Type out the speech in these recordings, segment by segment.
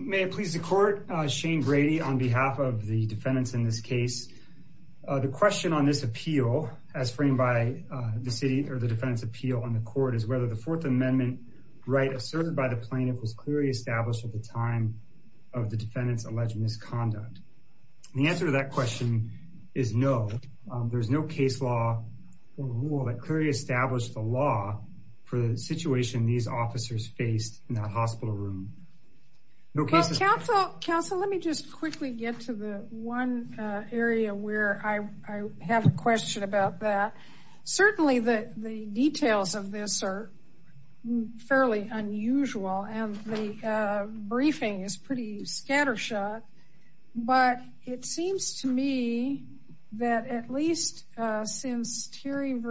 May I please the court, Shane Brady on behalf of the defendants in this case. The question on this appeal as framed by the city or the defense appeal on the court is whether the Fourth Amendment right asserted by the plaintiff was clearly established at the time of the defendant's alleged misconduct. The answer to that question is no. There's no case law or rule that clearly established the law for the situation these officers faced in the hospital room. Counsel, let me just quickly get to the one area where I have a question about that. Certainly the details of this are fairly unusual and the briefing is pretty scattershot. But it seems to me that at least since Terry v.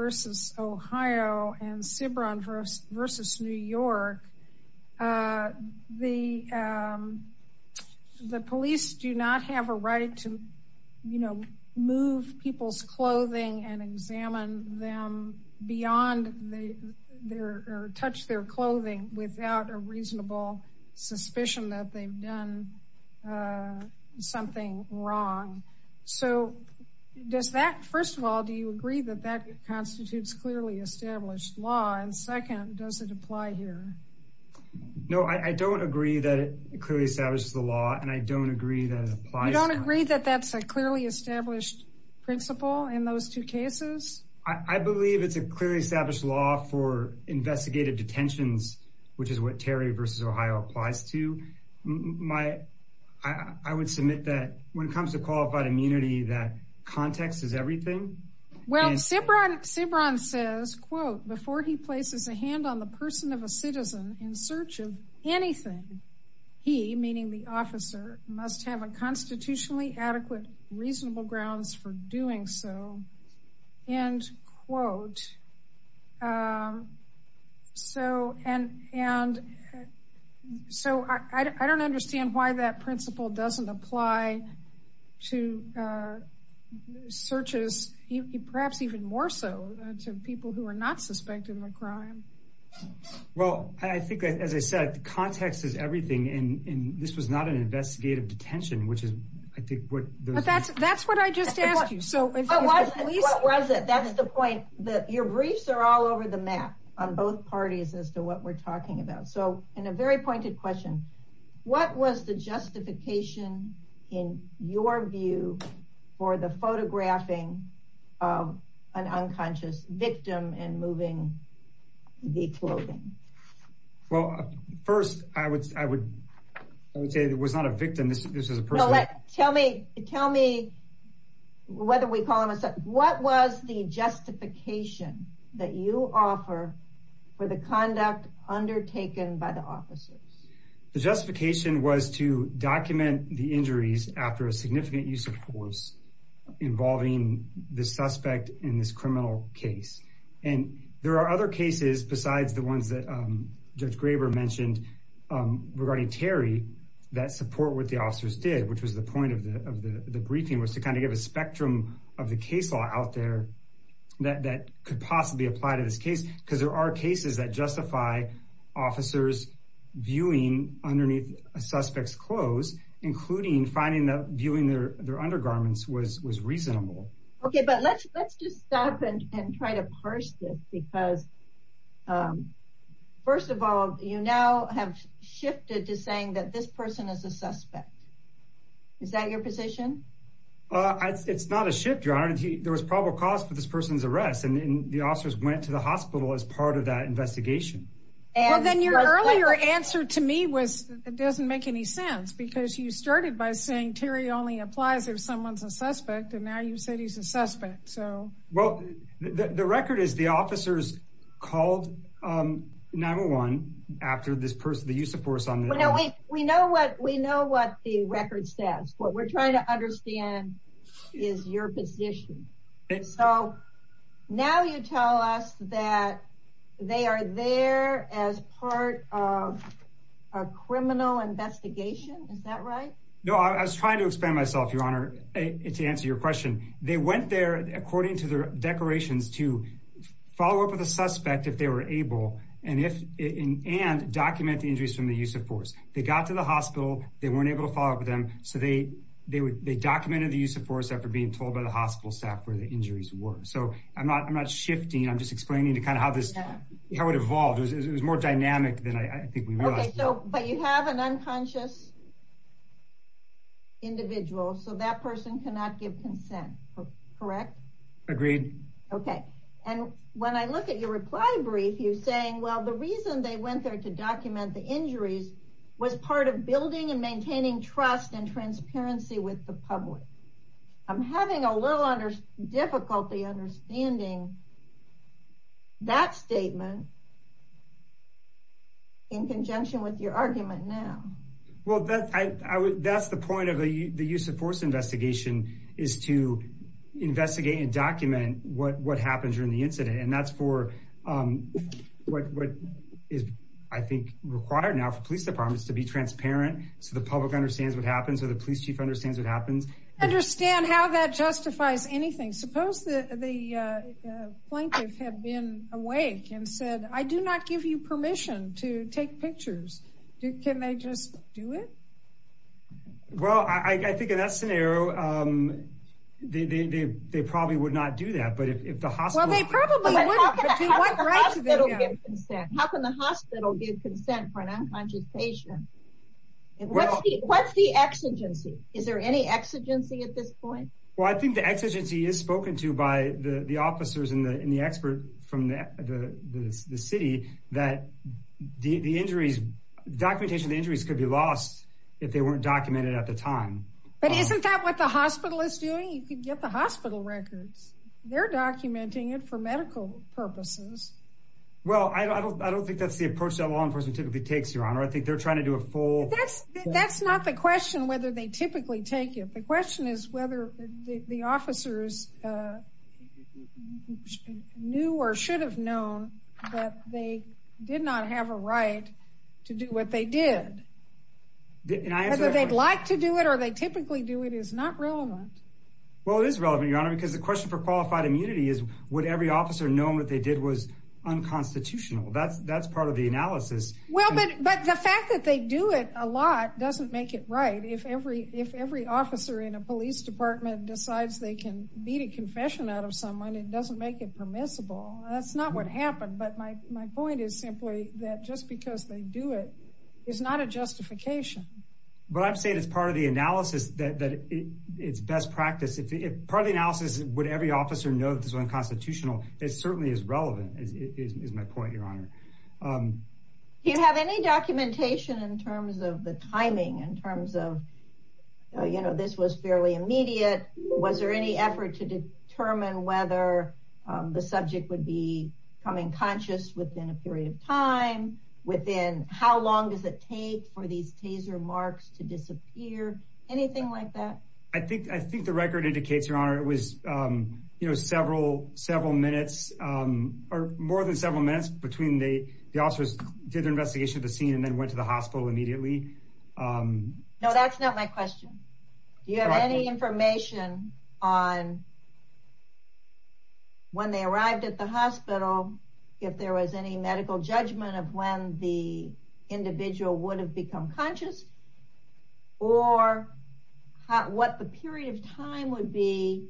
Ohio and Cibran v. New York, the police do not have a right to move people's clothing and examine them beyond or touch their clothing without a reasonable suspicion that they've done something wrong. So does that, first of all, do you agree that that constitutes clearly established law? And second, does it apply here? No, I don't agree that it clearly establishes the law and I don't agree that it applies. You don't agree that that's a clearly established principle in those two cases? I believe it's a clearly established law for investigative detentions, which is what Terry v. Ohio applies to. I would submit that when it comes to qualified immunity, that context is everything. Well, Cibran says, quote, before he places a hand on the person of a citizen in search of anything, he, meaning the officer, must have a constitutionally adequate reasonable grounds for doing so, end quote. And so I don't understand why that principle doesn't apply to searches, perhaps even more so to people who are not suspected of a crime. Well, I think, as I said, the context is everything. And this was not an investigative detention, which is, I think, what... That's what I just asked you. So what was it? That is the point that your briefs are all over the map on both parties as to what we're talking about. So in a very pointed question, what was the justification in your view for the photographing of an unconscious victim and moving the clothing? Well, first, I would say it was not a victim. This is a person. Tell me whether we call him a suspect. What was the justification that you offer for the conduct undertaken by the officers? The justification was to document the injuries after a significant use of force involving the suspect in this criminal case. And there are other cases besides the ones that Judge Graber mentioned regarding Terry that support what the officers did, which was the point of the briefing, was to kind of give a spectrum of the case law out there that could possibly apply to this case. Because there are cases that justify officers viewing underneath a suspect's clothes, including finding that viewing their undergarments was reasonable. OK, but let's just stop and try to parse this because, first of all, you now have shifted to saying that this person is a suspect. Is that your position? It's not a shift. There was probable cause for this person's arrest. And the officers went to the hospital as part of that investigation. And then your earlier answer to me was it doesn't make any sense because you started by saying Terry only applies if someone's a suspect. And now you said he's a suspect. Well, the record is the officers called 9-1-1 after the use of force. We know what the record says. What we're trying to understand is your position. So now you tell us that they are there as part of a criminal investigation. Is that right? No, I was trying to expand myself, Your Honor, to answer your question. They went there, according to their declarations, to follow up with a suspect if they were able and document the injuries from the use of force. They got to the hospital. They weren't able to follow up with them. So they documented the use of force after being told by the hospital staff where the injuries were. So I'm not shifting. I'm just explaining to kind of how this would evolve. It was more dynamic than I think we realized. But you have an unconscious individual, so that person cannot give consent. Correct? Agreed. Okay. And when I look at your reply brief, you're saying, well, the reason they went there to document the injuries was part of building and maintaining trust and transparency with the public. I'm having a little difficulty understanding that statement in conjunction with your argument now. Well, that's the point of the use of force investigation, is to investigate and document what happened during the incident. And that's what is, I think, required now for police departments to be transparent so the public understands what happens or the police chief understands what happens. I don't understand how that justifies anything. Suppose the plaintiff had been awake and said, I do not give you permission to take pictures. Can they just do it? Well, I think in that scenario, they probably would not do that. But if the hospital... How can the hospital give consent for an unconscious patient? What's the exigency? Is there any exigency at this point? Well, I think the exigency is spoken to by the officers and the expert from the city that documentation of the injuries could be lost if they weren't documented at the time. But isn't that what the hospital is doing? You could get the hospital records. They're documenting it for medical purposes. Well, I don't think that's the approach that law enforcement typically takes, Your Honor. I think they're trying to do a full... That's not the question whether they typically take it. The question is whether the officers knew or should have known that they did not have a right to do what they did. Whether they'd like to do it or they typically do it is not relevant. Well, it is relevant, Your Honor, because the question for qualified immunity is would every officer know what they did was unconstitutional. That's part of the analysis. Well, but the fact that they do it a lot doesn't make it right. If every officer in a police department decides they can beat a confession out of someone, it doesn't make it permissible. That's not what happened. But my point is simply that just because they do it is not a justification. But I'm saying it's part of the analysis that it's best practice. Part of the analysis is would every officer know that this was unconstitutional. It certainly is relevant is my point, Your Honor. Do you have any documentation in terms of the timing, in terms of, you know, this was fairly immediate? Was there any effort to determine whether the subject would be coming conscious within a period of time? Within how long does it take for these taser marks to disappear? Anything like that? I think the record indicates, Your Honor, it was, you know, several minutes or more than several minutes between the officers did their investigation of the scene and then went to the hospital immediately. No, that's not my question. Do you have any information on when they arrived at the hospital, if there was any medical judgment of when the individual would have become conscious or what the period of time would be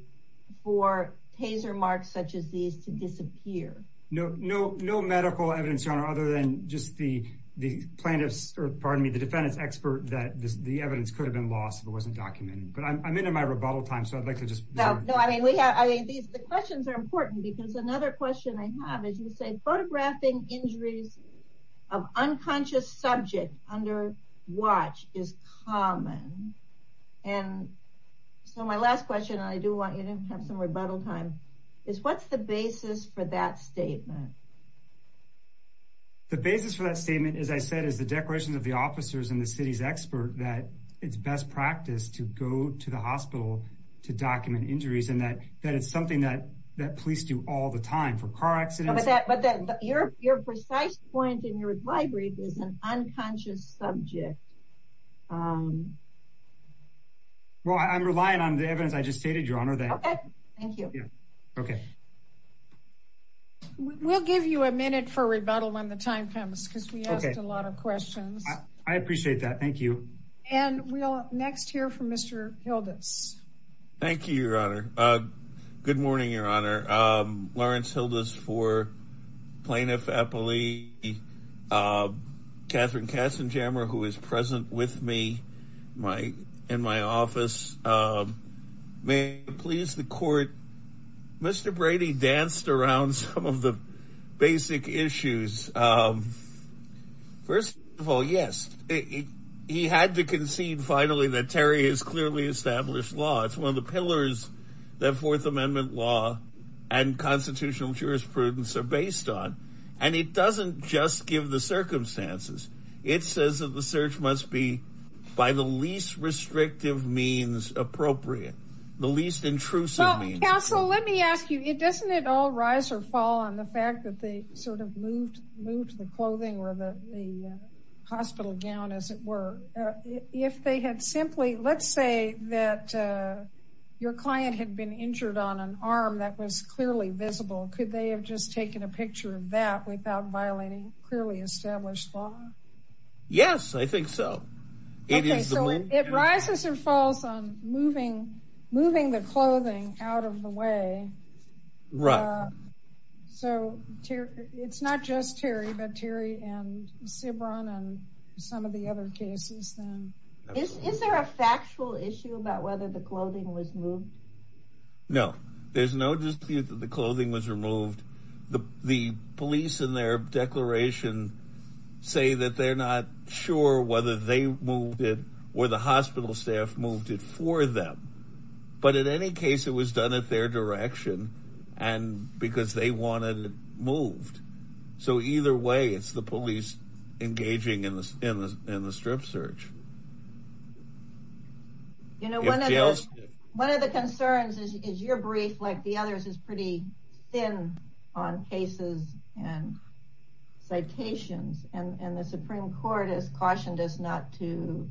for taser marks such as these to disappear? No, no medical evidence, Your Honor, other than just the plaintiff's, or pardon me, the defendant's expert that the evidence could have been lost if it wasn't documented. But I'm into my rebuttal time, so I'd like to just... The questions are important because another question I have is, you say, photographing injuries of unconscious subject under watch is common. And so my last question, and I do want you to have some rebuttal time, is what's the basis for that statement? The basis for that statement, as I said, is the declaration of the officers and the city's expert that it's best practice to go to the hospital to document injuries and that it's something that police do all the time for car accidents. But your precise point in your reply brief is an unconscious subject. Well, I'm relying on the evidence I just stated, Your Honor. Okay, thank you. Okay. We'll give you a minute for rebuttal when the time comes, because we asked a lot of questions. I appreciate that. Thank you. And we'll next hear from Mr. Hildes. Thank you, Your Honor. Good morning, Your Honor. Lawrence Hildes for Plaintiff Appellee. Katherine Katzenjammer, who is present with me in my office. May I please the court? Mr. Brady danced around some of the basic issues. First of all, yes, he had to concede finally that Terry is clearly established law. It's one of the pillars that Fourth Amendment law and constitutional jurisprudence are based on. And it doesn't just give the circumstances. It says that the search must be by the least restrictive means appropriate, the least intrusive. Counsel, let me ask you, doesn't it all rise or fall on the fact that they sort of moved the clothing or the hospital gown, as it were? If they had simply, let's say that your client had been injured on an arm that was clearly visible. Could they have just taken a picture of that without violating clearly established law? Yes, I think so. It rises and falls on moving the clothing out of the way. Right. So it's not just Terry, but Terry and Cibran and some of the other cases. Is there a factual issue about whether the clothing was moved? No, there's no dispute that the clothing was removed. The police in their declaration say that they're not sure whether they moved it or the hospital staff moved it for them. But in any case, it was done at their direction and because they wanted it moved. So either way, it's the police engaging in the strip search. You know, one of the concerns is your brief, like the others, is pretty thin on cases and citations. And the Supreme Court has cautioned us not to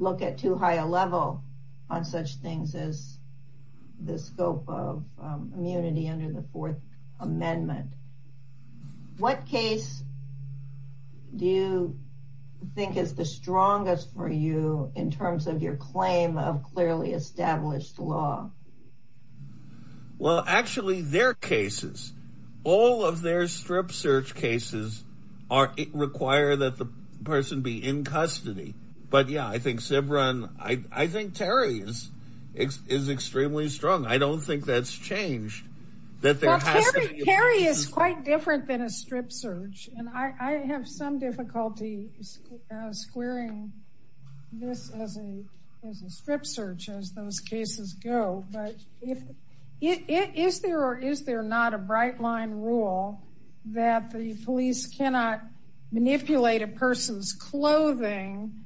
look at too high a level on such things as the scope of immunity under the Fourth Amendment. What case do you think is the strongest for you in terms of your claim of clearly established law? Well, actually, their cases, all of their strip search cases require that the person be in custody. But yeah, I think Cibran, I think Terry is extremely strong. I don't think that's changed. Well, Terry is quite different than a strip search. And I have some difficulty squaring this as a strip search as those cases go. Is there or is there not a bright line rule that the police cannot manipulate a person's clothing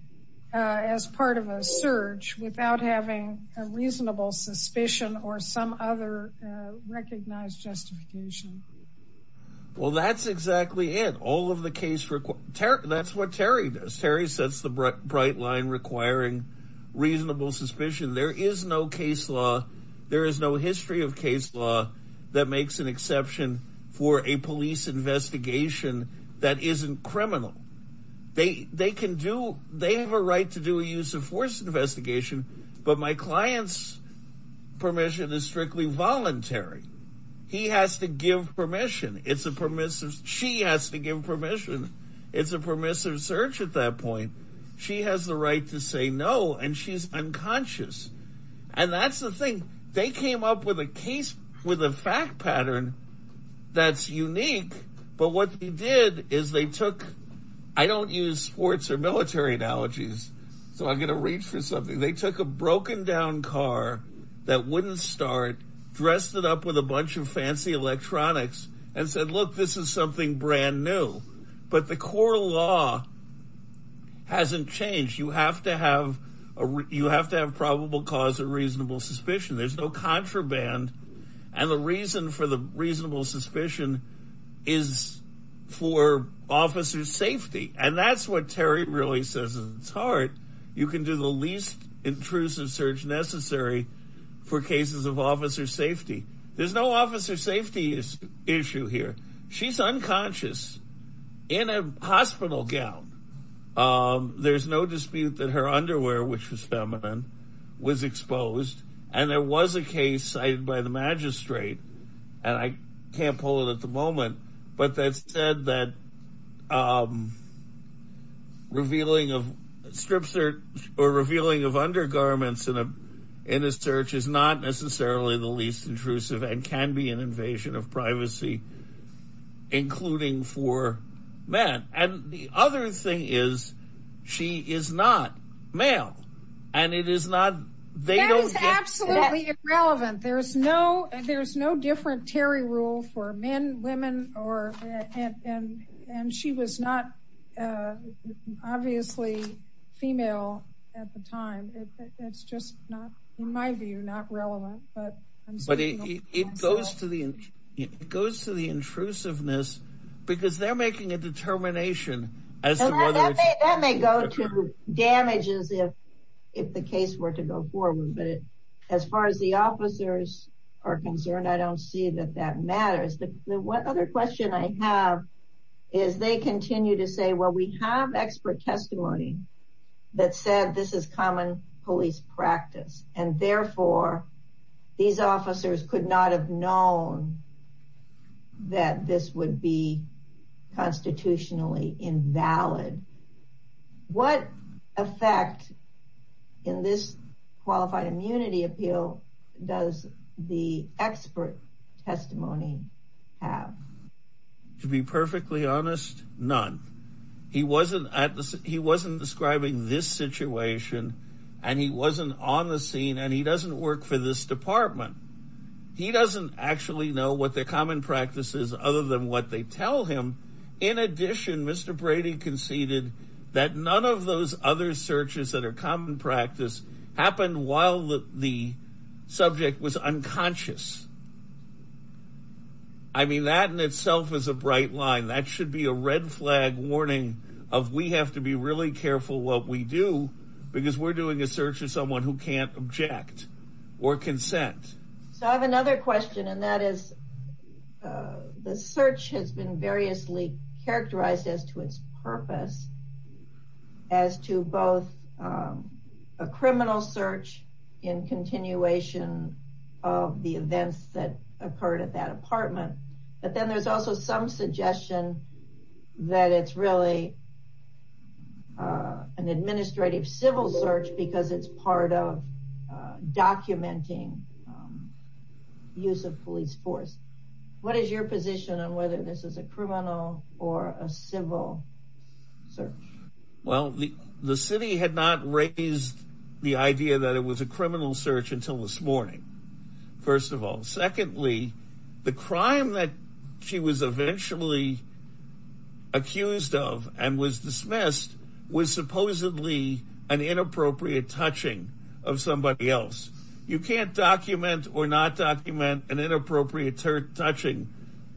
as part of a search without having a reasonable suspicion or some other recognized justification? Well, that's exactly it. All of the case, that's what Terry does. Terry sets the bright line requiring reasonable suspicion. There is no case law. There is no history of case law that makes an exception for a police investigation that isn't criminal. They can do they have a right to do a use of force investigation. But my client's permission is strictly voluntary. He has to give permission. It's a permissive. She has to give permission. It's a permissive search at that point. She has the right to say no. And she's unconscious. And that's the thing. They came up with a case with a fact pattern that's unique. But what they did is they took I don't use sports or military analogies. So I'm going to reach for something. They took a broken down car that wouldn't start, dressed it up with a bunch of fancy electronics and said, look, this is something brand new. But the core law hasn't changed. You have to have a you have to have probable cause of reasonable suspicion. There's no contraband. And the reason for the reasonable suspicion is for officers safety. And that's what Terry really says. It's hard. You can do the least intrusive search necessary for cases of officer safety. There's no officer safety issue here. She's unconscious in a hospital gown. There's no dispute that her underwear, which was feminine, was exposed. And there was a case cited by the magistrate, and I can't pull it at the moment, but that said that revealing of strips or revealing of undergarments in a in a search is not necessarily the least intrusive and can be an invasion of privacy, including for men. And the other thing is, she is not male. And it is not. They don't get absolutely relevant. There's no there's no different Terry rule for men, women or. And she was not obviously female at the time. It's just not in my view, not relevant. But it goes to the it goes to the intrusiveness because they're making a determination as to whether that may go to damages if if the case were to go forward. But as far as the officers are concerned, I don't see that that matters. What other question I have is they continue to say, well, we have expert testimony that said this is common police practice. And therefore, these officers could not have known that this would be constitutionally invalid. What effect in this qualified immunity appeal does the expert testimony have? To be perfectly honest, none. He wasn't he wasn't describing this situation and he wasn't on the scene and he doesn't work for this department. He doesn't actually know what the common practice is other than what they tell him. In addition, Mr. Brady conceded that none of those other searches that are common practice happened while the subject was unconscious. I mean, that in itself is a bright line. That should be a red flag warning of we have to be really careful what we do because we're doing a search of someone who can't object or consent. So I have another question, and that is the search has been variously characterized as to its purpose. As to both a criminal search in continuation of the events that occurred at that apartment. But then there's also some suggestion that it's really an administrative civil search because it's part of documenting use of police force. What is your position on whether this is a criminal or a civil search? Well, the city had not raised the idea that it was a criminal search until this morning. First of all, secondly, the crime that she was eventually accused of and was dismissed was supposedly an inappropriate touching of somebody else. You can't document or not document an inappropriate touching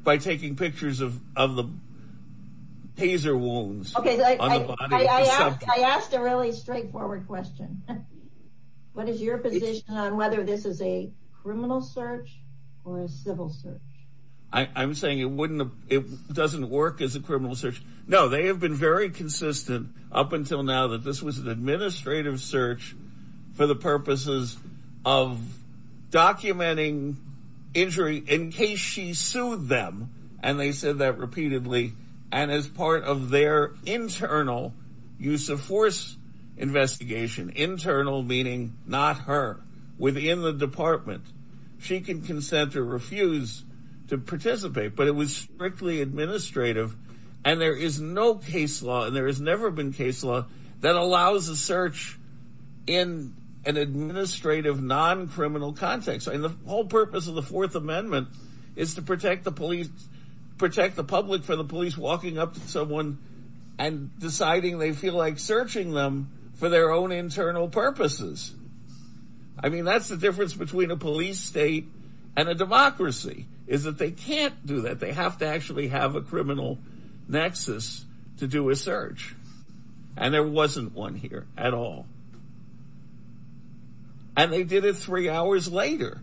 by taking pictures of the hazer wounds. I asked a really straightforward question. What is your position on whether this is a criminal search or a civil search? I'm saying it doesn't work as a criminal search. No, they have been very consistent up until now that this was an administrative search for the purposes of documenting injury in case she sued them. And they said that repeatedly. And as part of their internal use of force investigation, internal meaning not her within the department, she can consent to refuse to participate. But it was strictly administrative. And there is no case law and there has never been case law that allows a search in an administrative, non-criminal context. And the whole purpose of the Fourth Amendment is to protect the police, protect the public for the police walking up to someone and deciding they feel like searching them for their own internal purposes. I mean, that's the difference between a police state and a democracy is that they can't do that. They have to actually have a criminal nexus to do a search. And there wasn't one here at all. And they did it three hours later.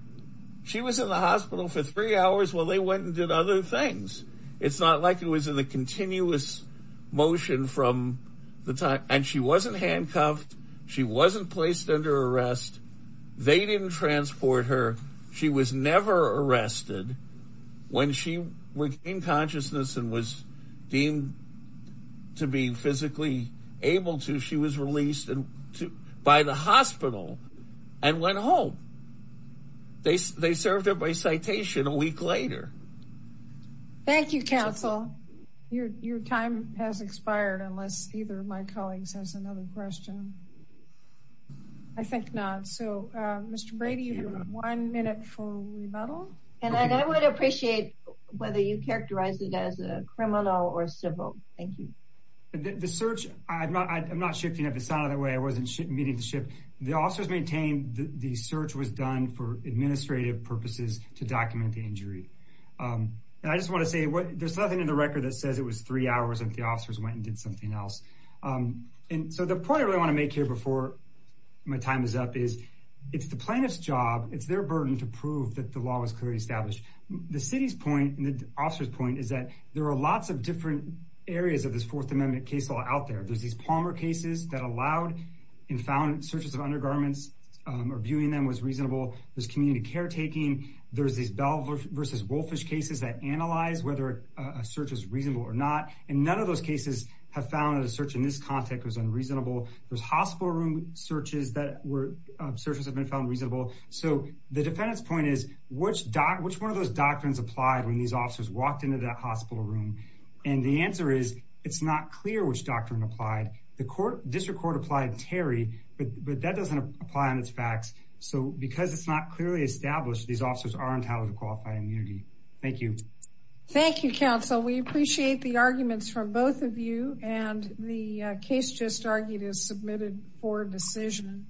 She was in the hospital for three hours while they went and did other things. It's not like it was in a continuous motion from the time. And she wasn't handcuffed. She wasn't placed under arrest. They didn't transport her. She was never arrested. When she regained consciousness and was deemed to be physically able to, she was released by the hospital and went home. They served her by citation a week later. Thank you, counsel. Your time has expired unless either of my colleagues has another question. I think not. So, Mr. Brady, you have one minute for rebuttal. And I would appreciate whether you characterize it as a criminal or civil. Thank you. The search, I'm not shifting it. It sounded that way. I wasn't meaning to shift. The officers maintained the search was done for administrative purposes to document the injury. And I just want to say there's nothing in the record that says it was three hours that the officers went and did something else. And so the point I really want to make here before my time is up is it's the plaintiff's job. It's their burden to prove that the law was clearly established. The city's point and the officer's point is that there are lots of different areas of this Fourth Amendment case law out there. There's these Palmer cases that allowed and found searches of undergarments or viewing them was reasonable. There's community caretaking. There's these Bell versus Wolfish cases that analyze whether a search is reasonable or not. And none of those cases have found that a search in this context was unreasonable. There's hospital room searches that were searches have been found reasonable. So the defendant's point is, which one of those doctrines applied when these officers walked into that hospital room? And the answer is it's not clear which doctrine applied. The district court applied Terry, but that doesn't apply on its facts. So because it's not clearly established, these officers are entitled to qualified immunity. Thank you. Thank you, counsel. We appreciate the arguments from both of you. And the case just argued is submitted for decision.